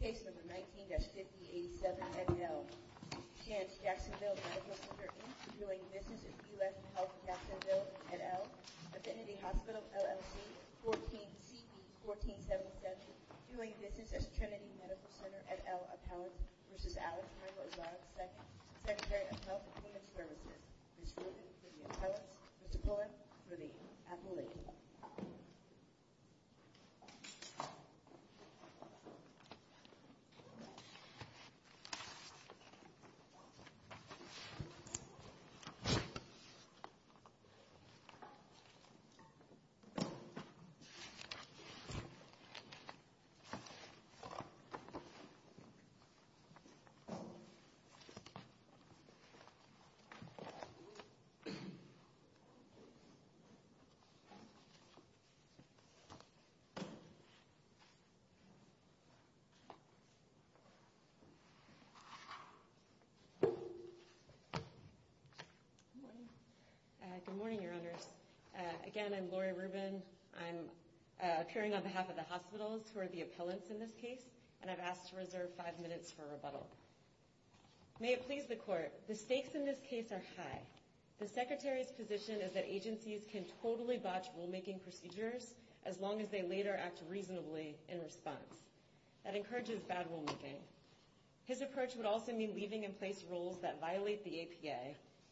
case number 19-5087 at L. Shands Jacksonville Medical Center in, doing business at U.S. Health Jacksonville at L. Affinity Hospital, LLC, 14-CP-1477, doing business at Trinity Medical Center at L. Appellant v. Alex Michael Azar, II, Secretary of Health and Human Services. This ruling for the appellants, Mr. Pullen for the appellate. Good morning, your honors. Again, I'm Lori Rubin. I'm appearing on behalf of the hospitals who are the appellants in this case, and I've asked to reserve five minutes for rebuttal. May it please the court, the stakes in this case are high. The secretary's position is that agencies can totally botch rulemaking procedures as long as they later act reasonably in response. That encourages bad rulemaking. His approach would also mean leaving in place rules that violate the APA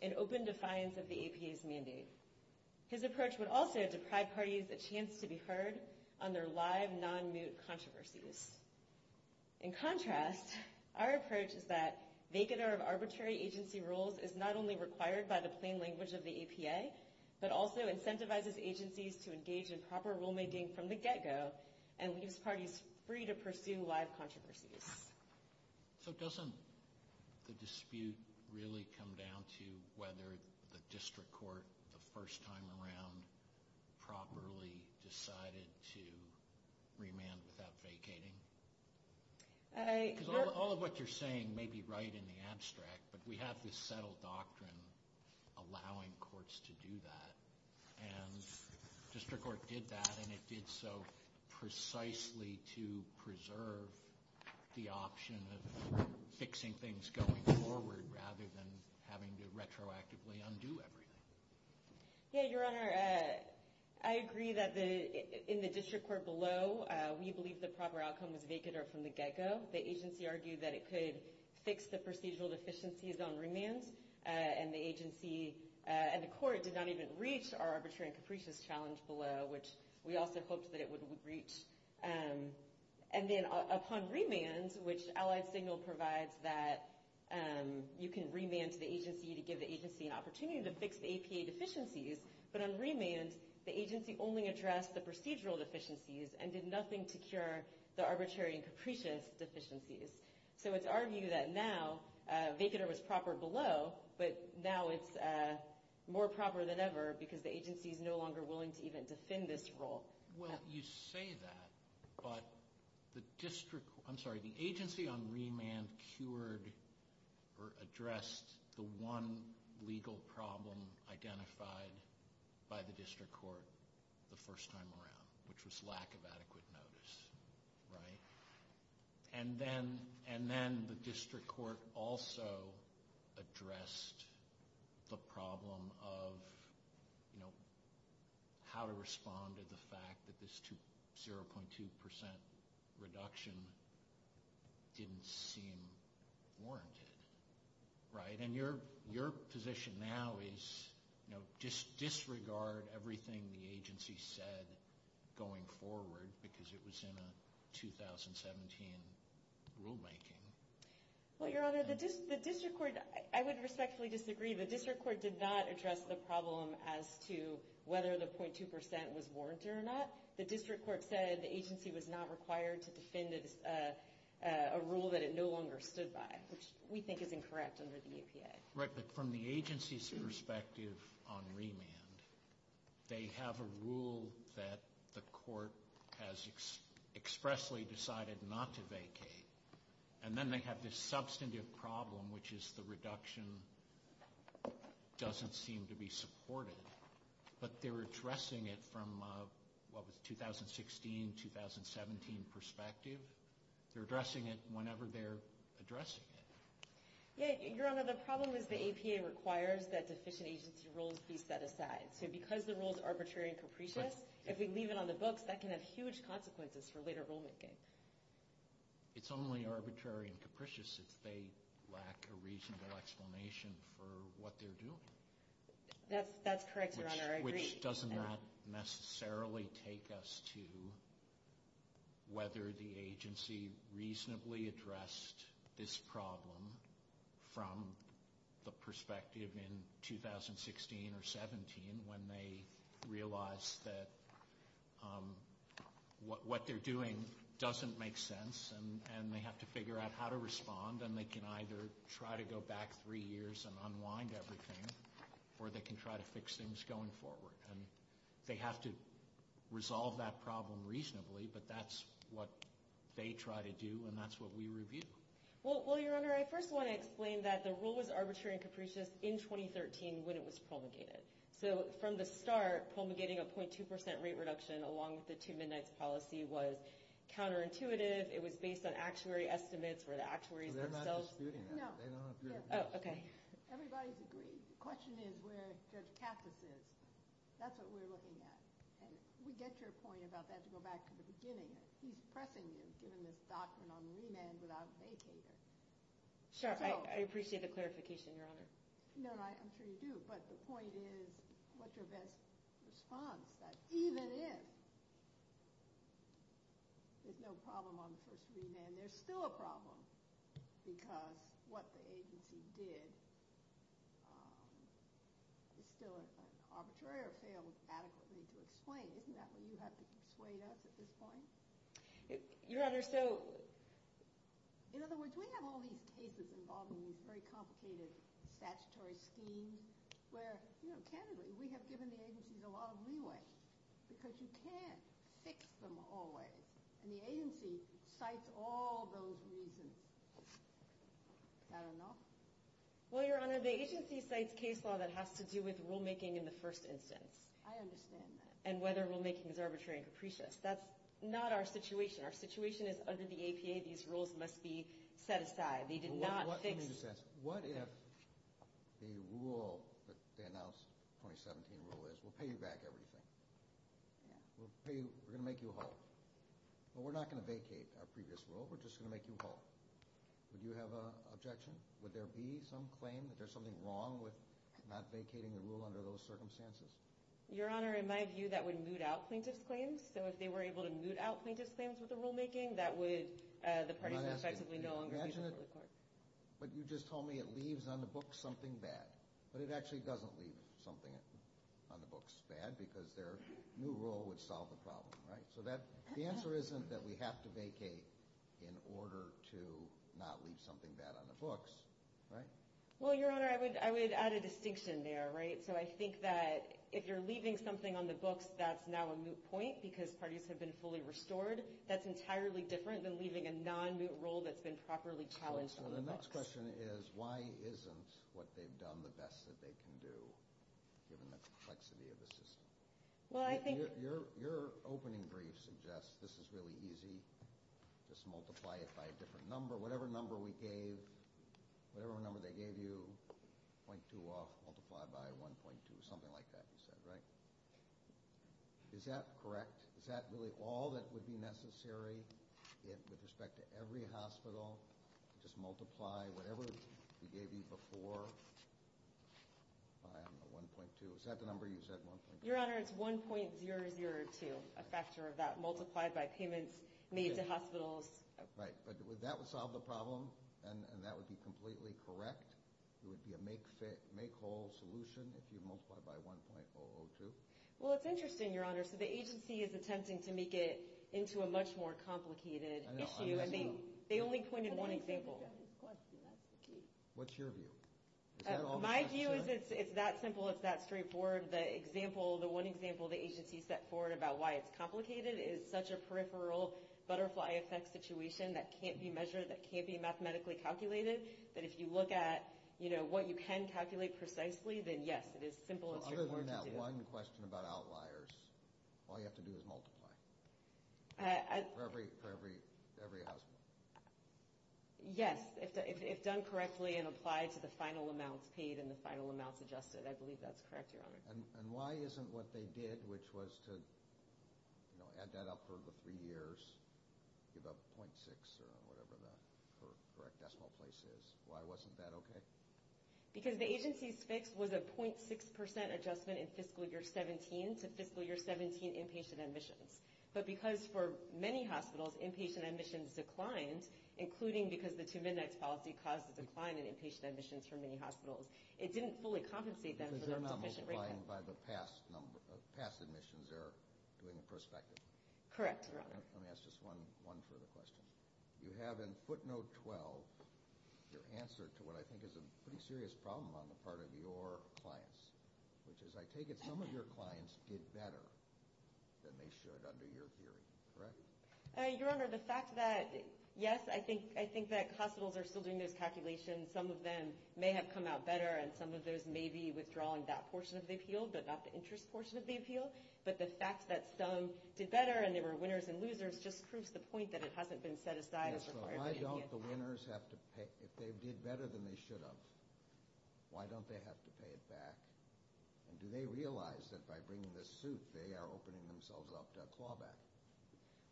in open defiance of the APA's mandate. His approach would also deprive parties a chance to be heard on their live, non-moot controversies. In contrast, our approach is that vacater of arbitrary agency rules is not only required by the plain language of the APA, but also incentivizes agencies to engage in proper rulemaking from the get-go and leaves parties free to pursue live controversies. So doesn't the dispute really come down to whether the district court, the first time around, properly decided to remand without vacating? All of what you're saying may be right in the abstract, but we have this settled doctrine allowing courts to do that. And district court did that, and it did so precisely to preserve the option of fixing things going forward rather than having to retroactively undo everything. Yeah, Your Honor, I agree that in the district court below, we believe the proper outcome was vacater from the get-go. The agency argued that it could fix the procedural deficiencies on remands, and the agency and the court did not even reach our arbitrary and capricious challenge below, which we also hoped that it would reach. And then upon remands, which Allied Signal provides that you can remand to the agency to give the agency an opportunity to fix the APA deficiencies, but on remands, the agency only addressed the procedural deficiencies and did nothing to cure the arbitrary and capricious deficiencies. So it's our view that now vacater was proper below, but now it's more proper than ever because the agency is no longer willing to even defend this role. Well, you say that, but the agency on remand cured or addressed the one legal problem identified by the district court the first time around, which was lack of adequate notice, right? And then the district court also addressed the problem of how to respond to the fact that this 0.2% reduction didn't seem warranted, right? And your position now is, you know, just disregard everything the agency said going forward because it was in a 2017 rulemaking. Well, Your Honor, the district court, I would respectfully disagree. The district court did not address the problem as to whether the 0.2% was warranted or not. The district court said the agency was not required to defend a rule that it no longer stood by, which we think is incorrect under the APA. Right, but from the agency's perspective on remand, they have a rule that the court has expressly decided not to vacate, and then they have this substantive problem, which is the reduction doesn't seem to be supported. But they're addressing it from what was a 2016-2017 perspective. They're addressing it whenever they're addressing it. Yeah, Your Honor, the problem is the APA requires that deficient agency rules be set aside. So because the rule is arbitrary and capricious, if we leave it on the books, that can have huge consequences for later rulemaking. It's only arbitrary and capricious if they lack a reasonable explanation for what they're doing. That's correct, Your Honor, I agree. Which doesn't necessarily take us to whether the agency reasonably addressed this problem from the perspective in 2016 or 17 when they realized that what they're doing doesn't make sense, and they have to figure out how to respond, and they can either try to go back three years and unwind everything, or they can try to fix things going forward. They have to resolve that problem reasonably, but that's what they try to do, and that's what we review. Well, Your Honor, I first want to explain that the rule was arbitrary and capricious in 2013 when it was promulgated. So from the start, promulgating a .2% rate reduction along with the two midnights policy was counterintuitive. It was based on actuary estimates where the actuaries themselves— Well, they're not disputing that. No. Oh, okay. Everybody's agreed. The question is where Judge Katz is. That's what we're looking at, and we get your point about that to go back to the beginning. He's pressing you, giving this document on remand without vacater. Sure, I appreciate the clarification, Your Honor. No, I'm sure you do, but the point is what's your best response, that even if there's no problem on the first remand, there's still a problem because what the agency did is still arbitrary or failed adequately to explain. Isn't that what you have to persuade us at this point? Your Honor, so— In other words, we have all these cases involving these very complicated statutory schemes where, candidly, we have given the agencies a lot of leeway because you can't fix them always, and the agency cites all those reasons. Is that enough? Well, Your Honor, the agency cites case law that has to do with rulemaking in the first instance. I understand that. And whether rulemaking is arbitrary and capricious. That's not our situation. Our situation is under the APA. These rules must be set aside. They did not fix— Let me just ask. What if the rule that they announced, the 2017 rule, is we'll pay you back everything? Yeah. We're going to make you halt. But we're not going to vacate our previous rule. We're just going to make you halt. Would you have an objection? Would there be some claim that there's something wrong with not vacating the rule under those circumstances? Your Honor, in my view, that would moot out plaintiff's claims. So if they were able to moot out plaintiff's claims with the rulemaking, that would— I'm not asking you. But you just told me it leaves on the books something bad. But it actually doesn't leave something on the books bad because their new rule would solve the problem, right? So the answer isn't that we have to vacate in order to not leave something bad on the books, right? Well, Your Honor, I would add a distinction there, right? So I think that if you're leaving something on the books that's now a moot point because parties have been fully restored, that's entirely different than leaving a non-moot rule that's been properly challenged on the books. So the next question is why isn't what they've done the best that they can do, given the complexity of the system? Well, I think— Your opening brief suggests this is really easy. Just multiply it by a different number. Whatever number we gave, whatever number they gave you, 0.2 off, multiplied by 1.2, something like that, you said, right? Is that correct? Is that really all that would be necessary with respect to every hospital? Just multiply whatever we gave you before by 1.2. Is that the number you said, 1.2? Your Honor, it's 1.002, a factor of that, multiplied by payments made to hospitals. Right, but would that have solved the problem? And that would be completely correct? It would be a make whole solution if you multiply by 1.002? Well, it's interesting, Your Honor. So the agency is attempting to make it into a much more complicated issue, and they only pointed one example. That's the key. What's your view? My view is it's that simple, it's that straightforward. The one example the agency set forward about why it's complicated is such a peripheral butterfly effect situation that can't be measured, that can't be mathematically calculated, that if you look at what you can calculate precisely, then yes, it is simple and straightforward to do. Other than that one question about outliers, all you have to do is multiply for every hospital? Yes, if done correctly and applied to the final amounts paid and the final amounts adjusted. I believe that's correct, Your Honor. And why isn't what they did, which was to add that up for the three years, give up 0.6 or whatever the correct decimal place is, why wasn't that okay? Because the agency's fix was a 0.6% adjustment in fiscal year 17 to fiscal year 17 inpatient admissions. But because for many hospitals, inpatient admissions declined, including because the two midnights policy caused a decline in inpatient admissions for many hospitals, it didn't fully compensate them for their deficient rate pay. Because they're not multiplying by the past admissions, they're doing it prospectively. Correct, Your Honor. Let me ask just one further question. You have in footnote 12 your answer to what I think is a pretty serious problem on the part of your clients, which is I take it some of your clients did better than they should under your theory, correct? Your Honor, the fact that, yes, I think that hospitals are still doing those calculations. Some of them may have come out better, and some of those may be withdrawing that portion of the appeal, but not the interest portion of the appeal. But the fact that some did better and there were winners and losers just proves the point that it hasn't been set aside as required. So why don't the winners have to pay – if they did better than they should have, why don't they have to pay it back? And do they realize that by bringing this suit they are opening themselves up to a clawback?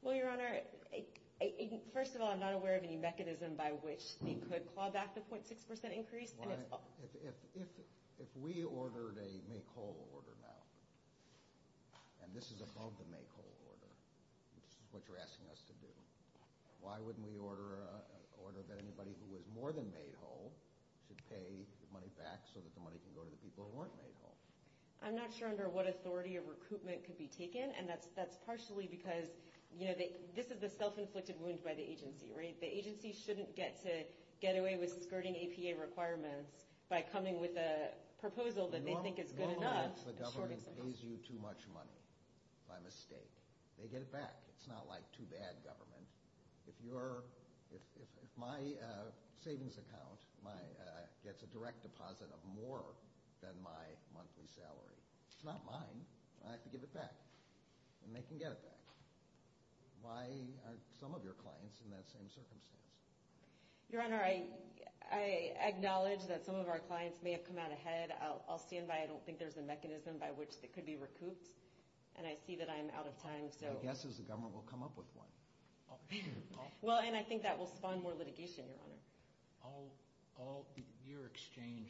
Well, Your Honor, first of all, I'm not aware of any mechanism by which they could claw back the 0.6 percent increase. If we ordered a make-whole order now, and this is above the make-whole order, which is what you're asking us to do, why wouldn't we order that anybody who was more than made whole should pay the money back so that the money can go to the people who weren't made whole? I'm not sure under what authority a recruitment could be taken, and that's partially because, you know, this is the self-inflicted wound by the agency, right? The agency shouldn't get to get away with skirting APA requirements by coming with a proposal that they think is good enough. If the government pays you too much money by mistake, they get it back. It's not like too bad government. If my savings account gets a direct deposit of more than my monthly salary, it's not mine. I have to give it back, and they can get it back. Why aren't some of your clients in that same circumstance? Your Honor, I acknowledge that some of our clients may have come out ahead. I'll stand by it. I don't think there's a mechanism by which it could be recouped, and I see that I'm out of time. My guess is the government will come up with one. Well, and I think that will spawn more litigation, Your Honor. Your exchange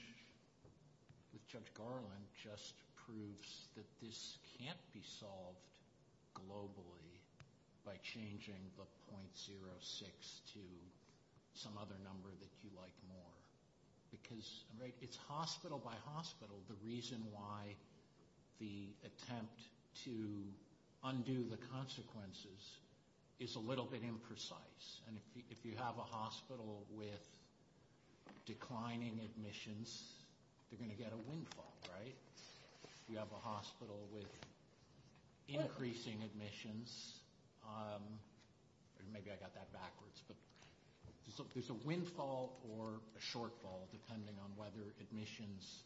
with Judge Garland just proves that this can't be solved globally by changing the .06 to some other number that you like more. Because it's hospital by hospital, the reason why the attempt to undo the consequences is a little bit imprecise. And if you have a hospital with declining admissions, they're going to get a windfall, right? If you have a hospital with increasing admissions, maybe I got that backwards, but there's a windfall or a shortfall depending on whether admissions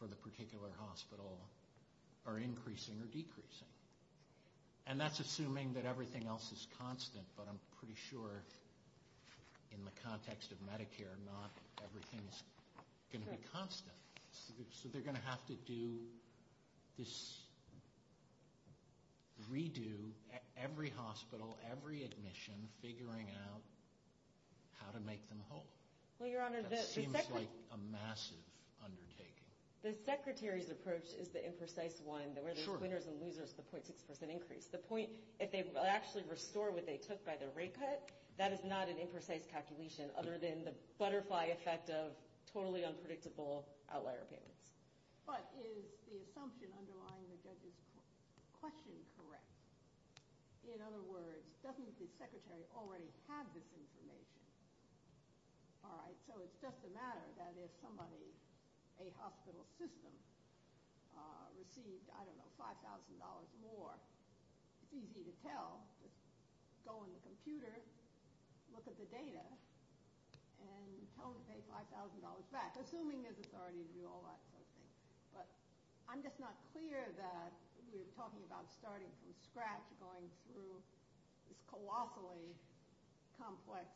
for the particular hospital are increasing or decreasing. And that's assuming that everything else is constant, but I'm pretty sure in the context of Medicare, not everything's going to be constant. So they're going to have to do this redo at every hospital, every admission, figuring out how to make them whole. That seems like a massive undertaking. The Secretary's approach is the imprecise one, that where there's winners and losers, the .6% increase. If they actually restore what they took by the rate cut, that is not an imprecise calculation, other than the butterfly effect of totally unpredictable outlier payments. But is the assumption underlying the judge's question correct? In other words, doesn't the Secretary already have this information? All right, so it's just a matter that if somebody, a hospital system, received, I don't know, $5,000 more, it's easy to tell, just go in the computer, look at the data, and tell them to pay $5,000 back, assuming there's authority to do all that sort of thing. But I'm just not clear that we're talking about starting from scratch, going through this colossally complex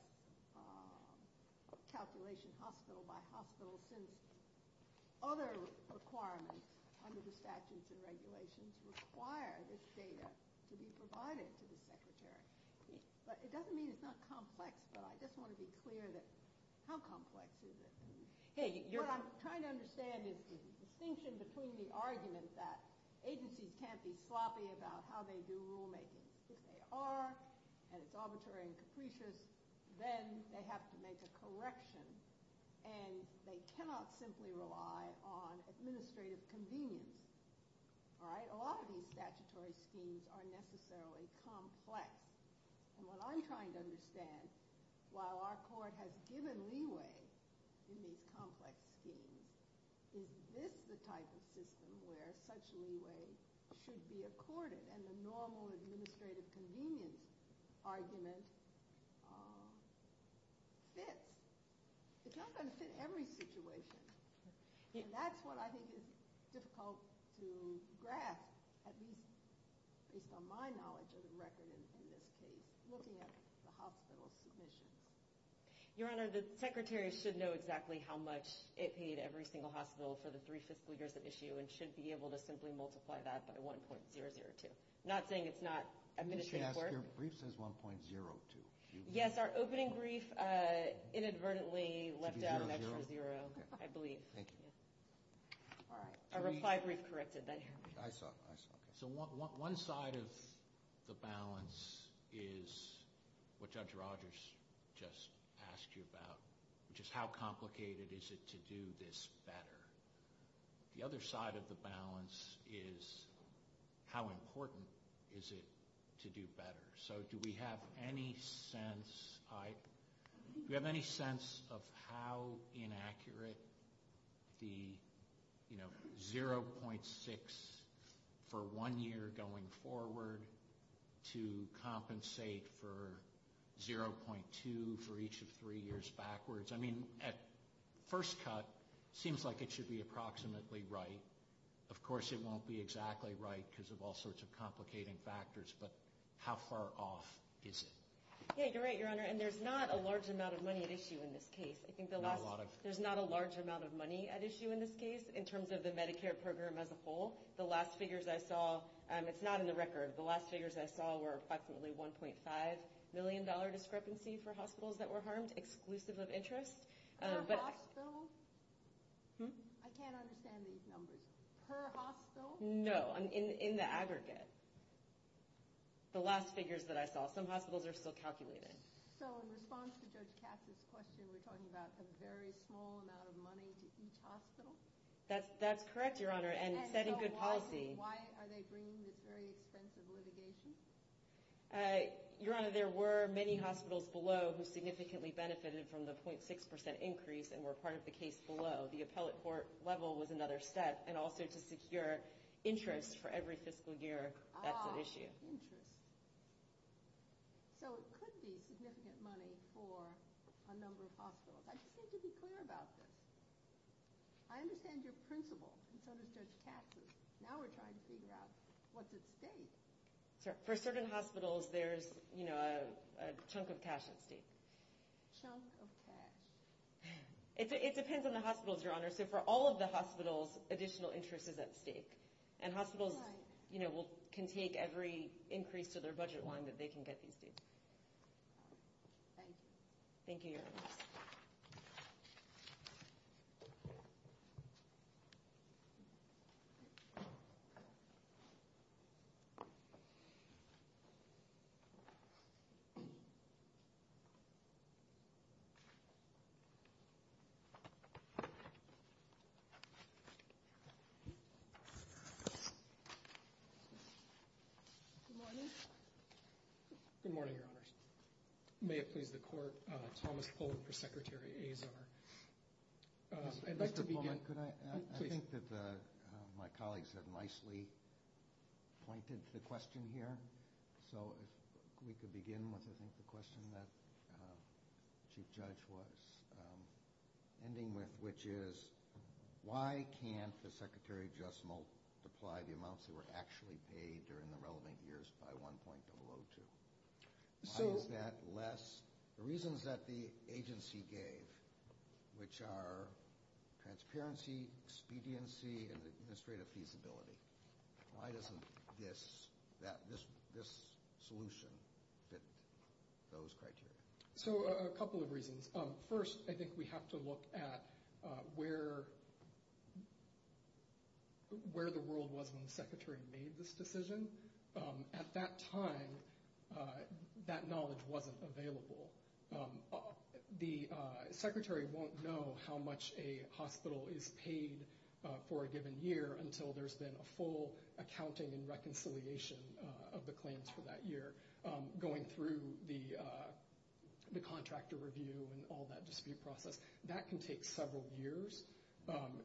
calculation, hospital by hospital, since other requirements under the statutes and regulations require this data to be provided to the Secretary. But it doesn't mean it's not complex, but I just want to be clear that how complex is it? What I'm trying to understand is the distinction between the argument that agencies can't be sloppy about how they do rulemaking. If they are, and it's arbitrary and capricious, then they have to make a correction, and they cannot simply rely on administrative convenience. All right? A lot of these statutory schemes are necessarily complex. And what I'm trying to understand, while our court has given leeway in these complex schemes, is this the type of system where such leeway should be accorded, and the normal administrative convenience argument fits? It's not going to fit every situation, and that's what I think is difficult to grasp, at least based on my knowledge of the record in this case, looking at the hospital submissions. Your Honor, the Secretary should know exactly how much it paid every single hospital for the three fiscal years at issue and should be able to simply multiply that by 1.002. I'm not saying it's not administrative work. Let me just ask, your brief says 1.02. Yes, our opening brief inadvertently left out an extra zero, I believe. Thank you. All right. Our reply brief corrected that. So one side of the balance is what Judge Rogers just asked you about, which is how complicated is it to do this better. The other side of the balance is how important is it to do better. So do we have any sense of how inaccurate the 0.6 for one year going forward to compensate for 0.2 for each of three years backwards. I mean, at first cut, it seems like it should be approximately right. Of course, it won't be exactly right because of all sorts of complicating factors, but how far off is it? You're right, your Honor, and there's not a large amount of money at issue in this case. There's not a large amount of money at issue in this case in terms of the Medicare program as a whole. The last figures I saw, it's not in the record, the last figures I saw were approximately $1.5 million discrepancy for hospitals that were harmed, exclusive of interest. Per hospital? I can't understand these numbers. Per hospital? No, in the aggregate. The last figures that I saw. Some hospitals are still calculated. So in response to Judge Katz's question, we're talking about a very small amount of money to each hospital? That's correct, your Honor, and setting good policy. And so why are they bringing this very expensive litigation? Your Honor, there were many hospitals below who significantly benefited from the 0.6% increase and were part of the case below. The appellate court level was another step, and also to secure interest for every fiscal year, that's at issue. Ah, interest. So it could be significant money for a number of hospitals. I just need to be clear about this. I understand your principle, and so does Judge Katz's. Now we're trying to figure out what's at stake. For certain hospitals, there's, you know, a chunk of cash at stake. Chunk of cash. It depends on the hospitals, your Honor. So for all of the hospitals, additional interest is at stake. And hospitals, you know, can take every increase to their budget line that they can get these days. Thank you. Thank you, your Honor. Good morning. Good morning, your Honors. May it please the Court, Thomas Poland for Secretary Azar. I'd like to begin. Mr. Poland, could I? Please. I think that my colleagues have nicely pointed to the question here. So if we could begin with, I think, the question that the Chief Judge was ending with, which is why can't the Secretary just multiply the amounts that were actually paid during the relevant years by 1.002? Why is that less? The reasons that the agency gave, which are transparency, expediency, and administrative feasibility. Why doesn't this solution fit those criteria? So a couple of reasons. First, I think we have to look at where the world was when the Secretary made this decision. At that time, that knowledge wasn't available. The Secretary won't know how much a hospital is paid for a given year until there's been a full accounting and reconciliation of the claims for that year, going through the contractor review and all that dispute process. That can take several years.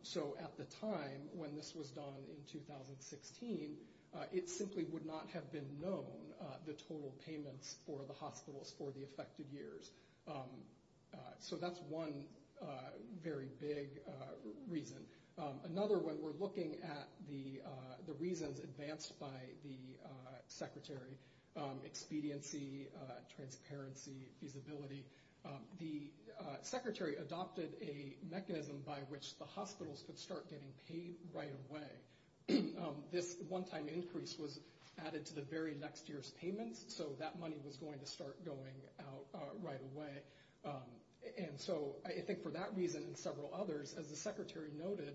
So at the time when this was done in 2016, it simply would not have been known the total payments for the hospitals for the affected years. So that's one very big reason. Another, when we're looking at the reasons advanced by the Secretary, expediency, transparency, feasibility, the Secretary adopted a mechanism by which the hospitals could start getting paid right away. This one-time increase was added to the very next year's payments, so that money was going to start going out right away. And so I think for that reason and several others, as the Secretary noted,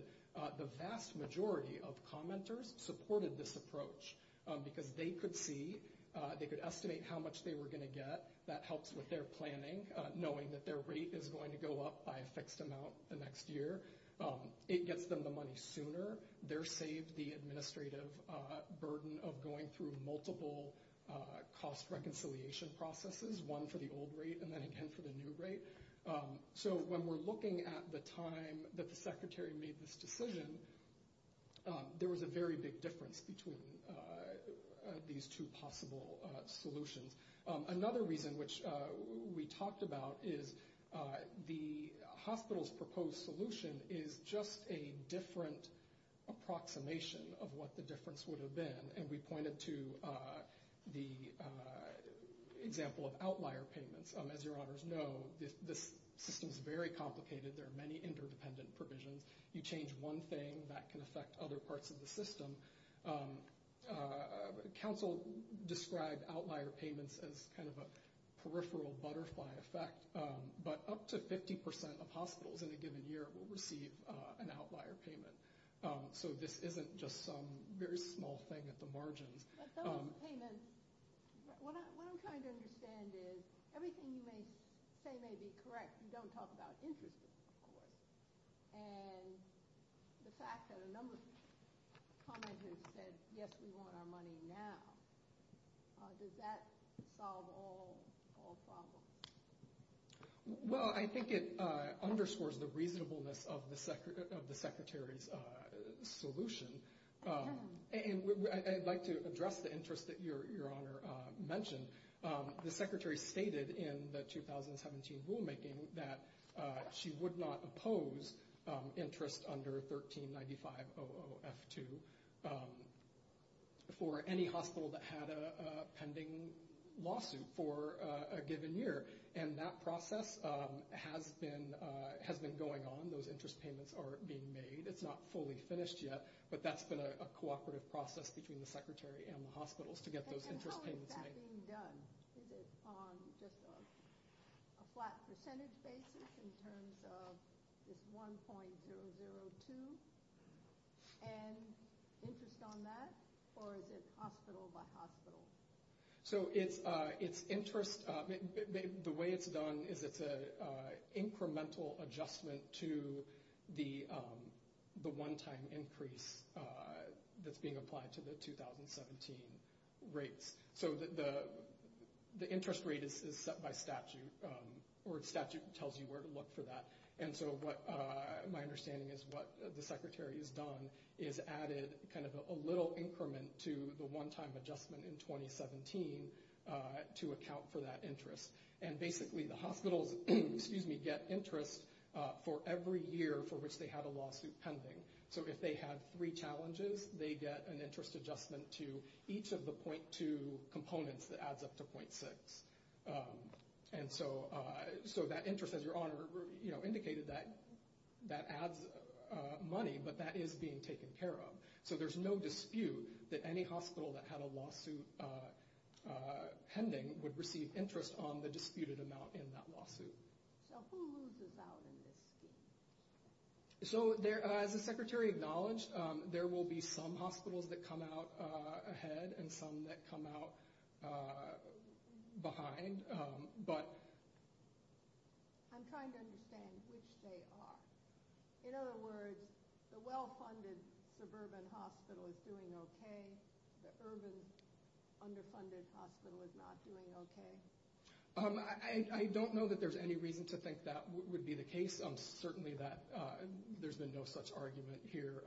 the vast majority of commenters supported this approach because they could see, they could estimate how much they were going to get. That helps with their planning, knowing that their rate is going to go up by a fixed amount the next year. It gets them the money sooner. They're saved the administrative burden of going through multiple cost reconciliation processes, one for the old rate and then again for the new rate. So when we're looking at the time that the Secretary made this decision, there was a very big difference between these two possible solutions. Another reason which we talked about is the hospital's proposed solution is just a different approximation of what the difference would have been, and we pointed to the example of outlier payments. As your honors know, this system is very complicated. There are many interdependent provisions. You change one thing, that can affect other parts of the system. Council described outlier payments as kind of a peripheral butterfly effect, but up to 50% of hospitals in a given year will receive an outlier payment. So this isn't just some very small thing at the margins. But those payments, what I'm trying to understand is everything you may say may be correct. And the fact that a number of commenters said, yes, we want our money now, does that solve all problems? Well, I think it underscores the reasonableness of the Secretary's solution. And I'd like to address the interest that your honor mentioned. The Secretary stated in the 2017 rulemaking that she would not oppose interest under 1395-00F2 for any hospital that had a pending lawsuit for a given year. And that process has been going on. Those interest payments are being made. It's not fully finished yet, but that's been a cooperative process between the Secretary and the hospitals to get those interest payments made. And how is that being done? Is it on just a flat percentage basis in terms of this 1.002? And interest on that? Or is it hospital by hospital? So the way it's done is it's an incremental adjustment to the one-time increase that's being applied to the 2017 rates. So the interest rate is set by statute, or statute tells you where to look for that. And so my understanding is what the Secretary has done is added kind of a little increment to the one-time adjustment in 2017 to account for that interest. And basically the hospitals get interest for every year for which they had a lawsuit pending. So if they had three challenges, they get an interest adjustment to each of the 0.2 components that adds up to 0.6. And so that interest, as your Honor indicated, that adds money, but that is being taken care of. So there's no dispute that any hospital that had a lawsuit pending would receive interest on the disputed amount in that lawsuit. So who loses out in this scheme? So as the Secretary acknowledged, there will be some hospitals that come out ahead and some that come out behind, but... I'm trying to understand which they are. In other words, the well-funded suburban hospital is doing okay. The urban underfunded hospital is not doing okay. I don't know that there's any reason to think that would be the case. Certainly there's been no such argument here.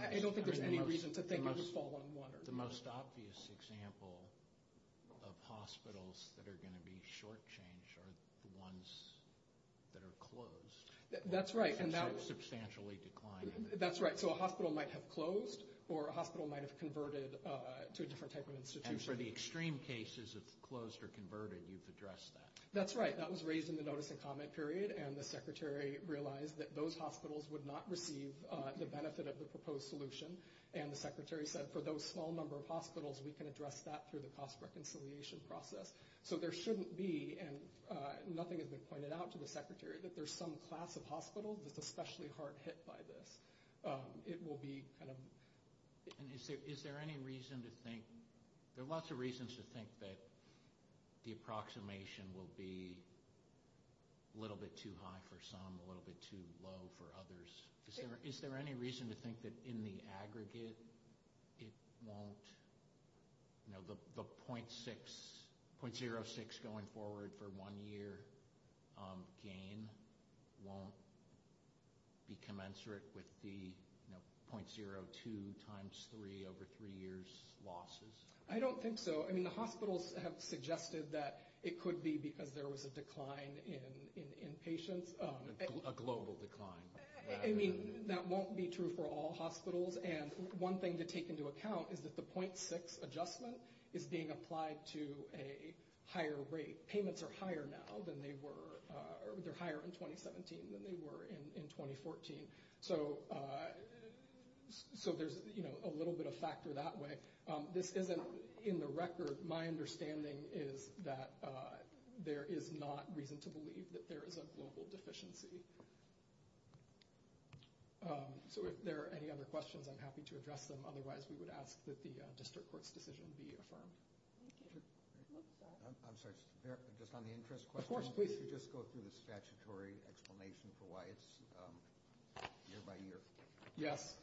I don't think there's any reason to think it would fall on one or the other. The most obvious example of hospitals that are going to be shortchanged are the ones that are closed. That's right. And so substantially declining. That's right. So a hospital might have closed or a hospital might have converted to a different type of institution. And for the extreme cases of closed or converted, you've addressed that. That's right. That was raised in the notice and comment period, and the Secretary realized that those hospitals would not receive the benefit of the proposed solution. And the Secretary said, for those small number of hospitals, we can address that through the cost reconciliation process. So there shouldn't be, and nothing has been pointed out to the Secretary, that there's some class of hospital that's especially hard hit by this. It will be kind of. And is there any reason to think, there are lots of reasons to think that the approximation will be a little bit too high for some, a little bit too low for others. Is there any reason to think that in the aggregate it won't, you know, the .06 going forward for one year gain won't be commensurate with the .02 times three over three years losses? I don't think so. I mean, the hospitals have suggested that it could be because there was a decline in patients. A global decline. I mean, that won't be true for all hospitals. And one thing to take into account is that the .6 adjustment is being applied to a higher rate. Payments are higher now than they were, or they're higher in 2017 than they were in 2014. So there's, you know, a little bit of factor that way. This isn't in the record. My understanding is that there is not reason to believe that there is a global deficiency. So if there are any other questions, I'm happy to address them. Otherwise, we would ask that the district court's decision be affirmed. I'm sorry, just on the interest question. Of course, please. Could you just go through the statutory explanation for why it's year by year? Yes.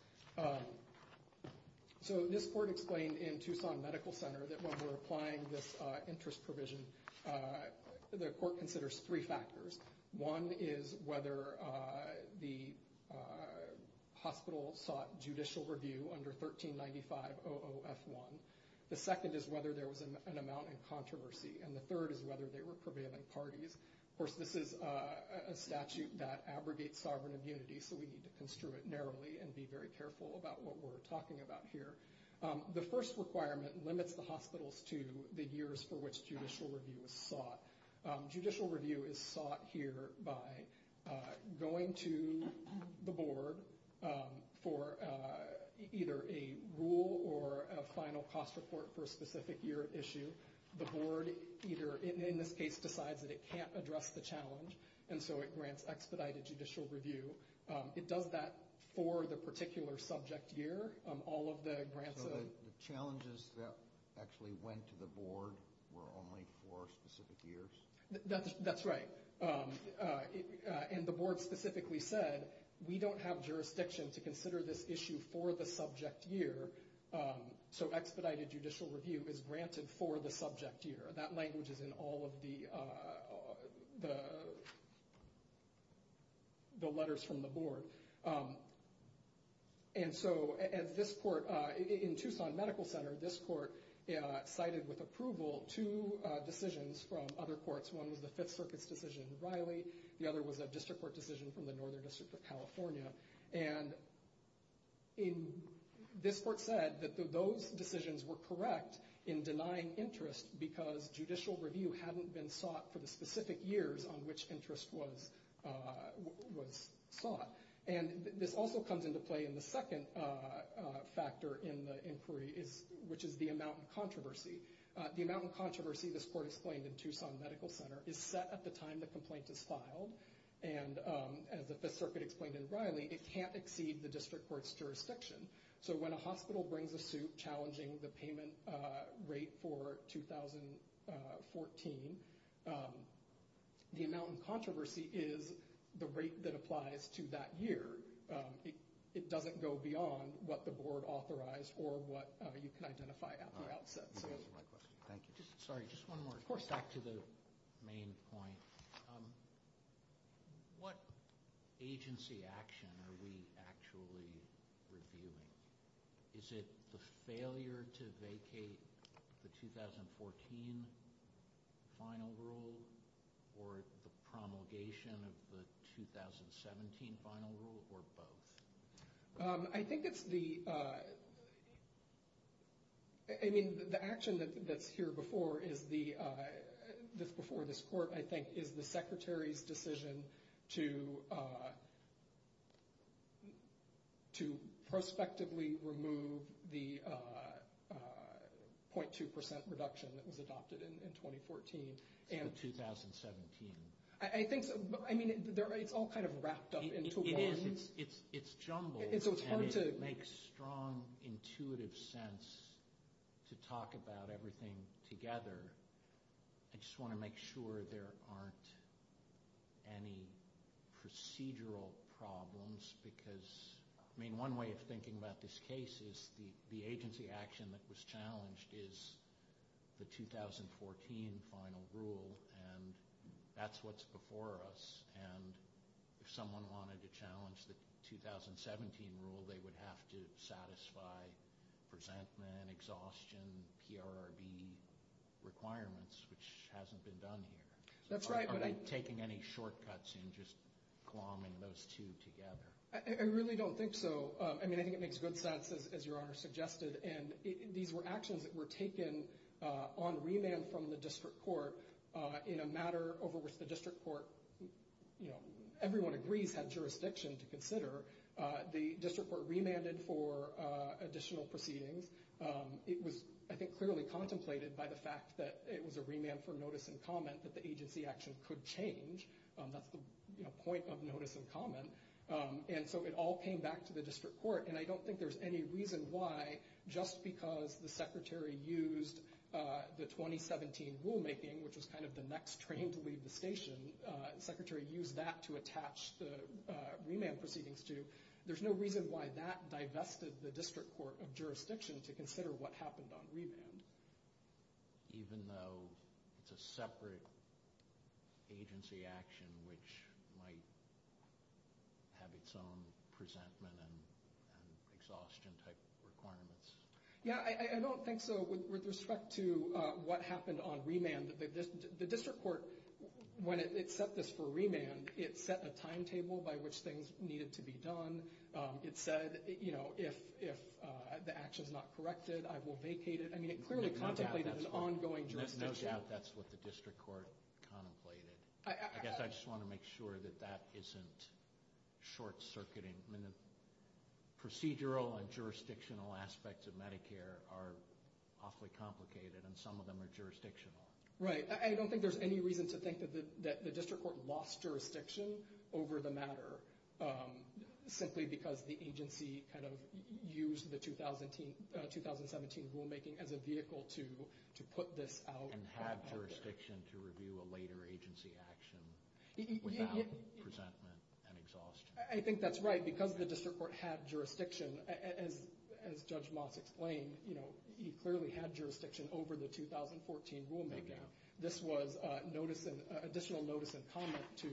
So this court explained in Tucson Medical Center that when we're applying this interest provision, the court considers three factors. One is whether the hospital sought judicial review under 1395 OOF1. The second is whether there was an amount in controversy. And the third is whether they were prevailing parties. Of course, this is a statute that abrogates sovereign immunity, so we need to construe it narrowly and be very careful about what we're talking about here. The first requirement limits the hospitals to the years for which judicial review is sought. Judicial review is sought here by going to the board for either a rule or a final cost report for a specific year issue. The board either, in this case, decides that it can't address the challenge, and so it grants expedited judicial review. It does that for the particular subject year. So the challenges that actually went to the board were only for specific years? That's right. And the board specifically said, we don't have jurisdiction to consider this issue for the subject year, so expedited judicial review is granted for the subject year. That language is in all of the letters from the board. And so in Tucson Medical Center, this court cited with approval two decisions from other courts. One was the Fifth Circuit's decision in Riley. The other was a district court decision from the Northern District of California. And this court said that those decisions were correct in denying interest because judicial review hadn't been sought for the specific years on which interest was sought. And this also comes into play in the second factor in the inquiry, which is the amount of controversy. The amount of controversy, this court explained in Tucson Medical Center, is set at the time the complaint is filed. And as the Fifth Circuit explained in Riley, it can't exceed the district court's jurisdiction. So when a hospital brings a suit challenging the payment rate for 2014, the amount of controversy is the rate that applies to that year. It doesn't go beyond what the board authorized or what you can identify at the outset. Thank you. Sorry, just one more. Of course, back to the main point. What agency action are we actually reviewing? Is it the failure to vacate the 2014 final rule or the promulgation of the 2017 final rule or both? I think it's the, I mean, the action that's here before this court, I think, is the secretary's decision to prospectively remove the 0.2% reduction that was adopted in 2014. The 2017. I think so. I mean, it's all kind of wrapped up into one. It's jumbled and it makes strong, intuitive sense to talk about everything together. I just want to make sure there aren't any procedural problems because, I mean, one way of thinking about this case is the agency action that was challenged is the 2014 final rule, and that's what's before us. And if someone wanted to challenge the 2017 rule, they would have to satisfy presentment, exhaustion, PRRB requirements, which hasn't been done here. That's right. Are we taking any shortcuts in just clombing those two together? I really don't think so. I mean, I think it makes good sense, as Your Honor suggested, and these were actions that were taken on remand from the district court in a matter over which the district court, you know, everyone agrees had jurisdiction to consider. The district court remanded for additional proceedings. It was, I think, clearly contemplated by the fact that it was a remand for notice and comment that the agency action could change. That's the point of notice and comment. And so it all came back to the district court. And I don't think there's any reason why, just because the secretary used the 2017 rulemaking, which was kind of the next train to leave the station, the secretary used that to attach the remand proceedings to, there's no reason why that divested the district court of jurisdiction to consider what happened on remand. Even though it's a separate agency action which might have its own presentment and exhaustion type requirements? Yeah, I don't think so with respect to what happened on remand. The district court, when it set this for remand, it set a timetable by which things needed to be done. It said, you know, if the action's not corrected, I will vacate it. I mean, it clearly contemplated an ongoing jurisdiction gap. No doubt that's what the district court contemplated. I guess I just want to make sure that that isn't short-circuiting. Procedural and jurisdictional aspects of Medicare are awfully complicated, and some of them are jurisdictional. Right. I don't think there's any reason to think that the district court lost jurisdiction over the matter, simply because the agency kind of used the 2017 rulemaking as a vehicle to put this out there. And have jurisdiction to review a later agency action without presentment and exhaustion. I think that's right. Because the district court had jurisdiction, as Judge Moss explained, you know, he clearly had jurisdiction over the 2014 rulemaking. This was additional notice and comment to,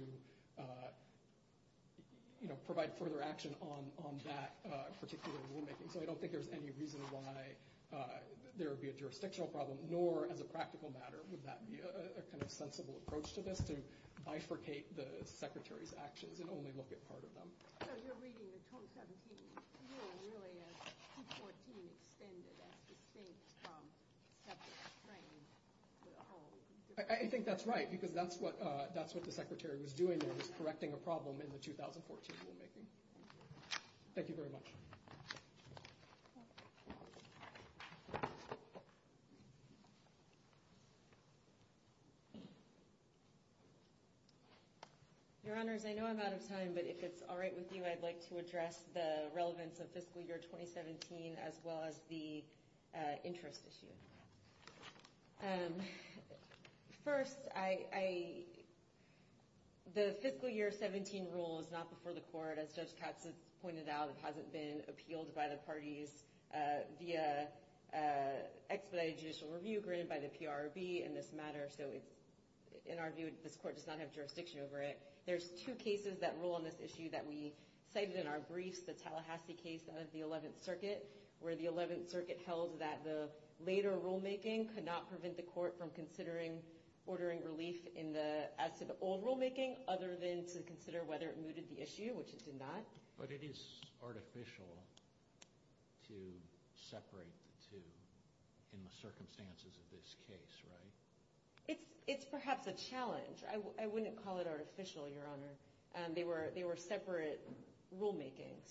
you know, provide further action on that particular rulemaking. So I don't think there's any reason why there would be a jurisdictional problem, nor as a practical matter would that be a kind of sensible approach to this, to bifurcate the Secretary's actions and only look at part of them. So you're reading the 2017 rule really as 2014 extended as distinct from separate training. I think that's right, because that's what the Secretary was doing. He was correcting a problem in the 2014 rulemaking. Thank you very much. Your Honors, I know I'm out of time, but if it's all right with you, I'd like to address the relevance of fiscal year 2017, as well as the interest issue. First, the fiscal year 17 rule is not before the court. As Judge Katz has pointed out, it hasn't been appealed by the parties via expedited judicial review, granted by the PRB in this matter. So in our view, this court does not have jurisdiction over it. There's two cases that rule on this issue that we cited in our briefs, the Tallahassee case out of the 11th Circuit, where the 11th Circuit held that the later rulemaking could not prevent the court from considering ordering relief in the as-of-old rulemaking, other than to consider whether it mooted the issue, which it did not. But it is artificial to separate the two in the circumstances of this case, right? It's perhaps a challenge. I wouldn't call it artificial, Your Honor. They were separate rulemakings.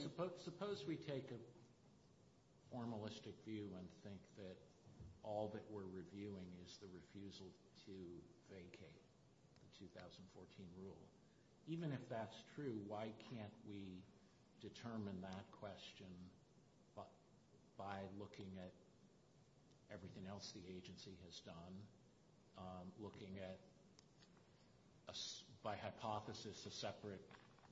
Suppose we take a formalistic view and think that all that we're reviewing is the refusal to vacate the 2014 rule. Even if that's true, why can't we determine that question by looking at everything else the agency has done, looking at, by hypothesis, a separate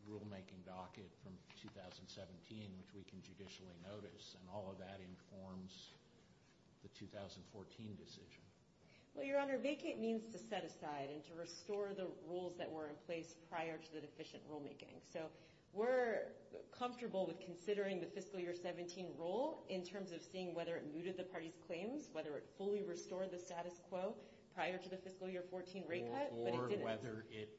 rulemaking docket from 2017, which we can judicially notice, and all of that informs the 2014 decision? Well, Your Honor, vacate means to set aside and to restore the rules that were in place prior to the deficient rulemaking. So we're comfortable with considering the fiscal year 17 rule in terms of seeing whether it mooted the party's claims, whether it fully restored the status quo prior to the fiscal year 14 rate cut, but it didn't. Or whether it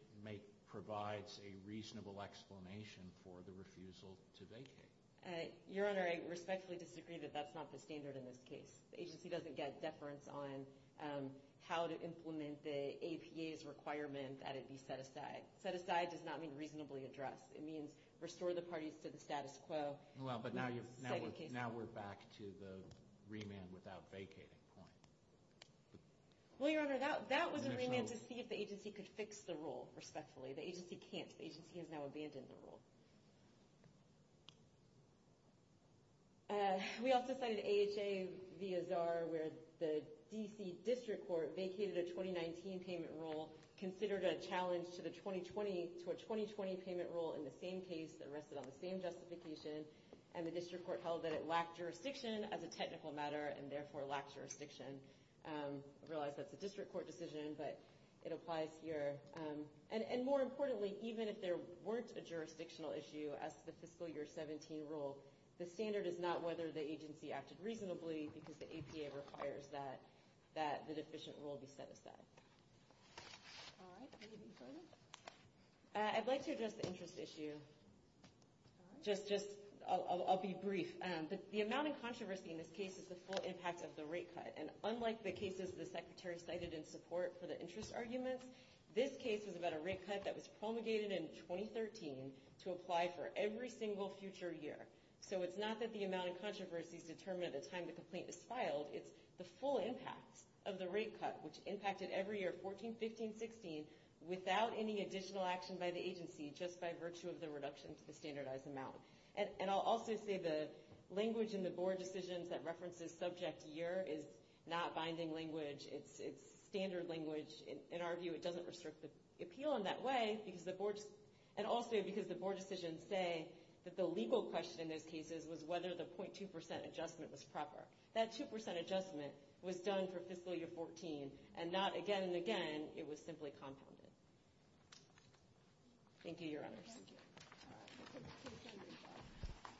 provides a reasonable explanation for the refusal to vacate. Your Honor, I respectfully disagree that that's not the standard in this case. The agency doesn't get deference on how to implement the APA's requirement that it be set aside. Set aside does not mean reasonably addressed. It means restore the parties to the status quo. Well, but now we're back to the remand without vacating point. Well, Your Honor, that was a remand to see if the agency could fix the rule respectfully. The agency can't. The agency has now abandoned the rule. We also cited AHA v. Azar where the D.C. District Court vacated a 2019 payment rule, considered a challenge to a 2020 payment rule in the same case that rested on the same justification, and the District Court held that it lacked jurisdiction as a technical matter and therefore lacked jurisdiction. I realize that's a District Court decision, but it applies here. And more importantly, even if there weren't a jurisdictional issue as to the fiscal year 17 rule, the standard is not whether the agency acted reasonably because the APA requires that the deficient rule be set aside. All right. I'd like to address the interest issue. Just I'll be brief. The amount of controversy in this case is the full impact of the rate cut, and unlike the cases the Secretary cited in support for the interest arguments, this case was about a rate cut that was promulgated in 2013 to apply for every single future year. So it's not that the amount of controversy is determined at the time the complaint is filed. It's the full impact of the rate cut, which impacted every year, 14, 15, 16, without any additional action by the agency just by virtue of the reduction to the standardized amount. And I'll also say the language in the board decisions that references subject year is not binding language. It's standard language. In our view, it doesn't restrict the appeal in that way, and also because the board decisions say that the legal question in those cases was whether the 0.2% adjustment was proper. That 2% adjustment was done for fiscal year 14, and not again and again it was simply compounded. Thank you, Your Honors.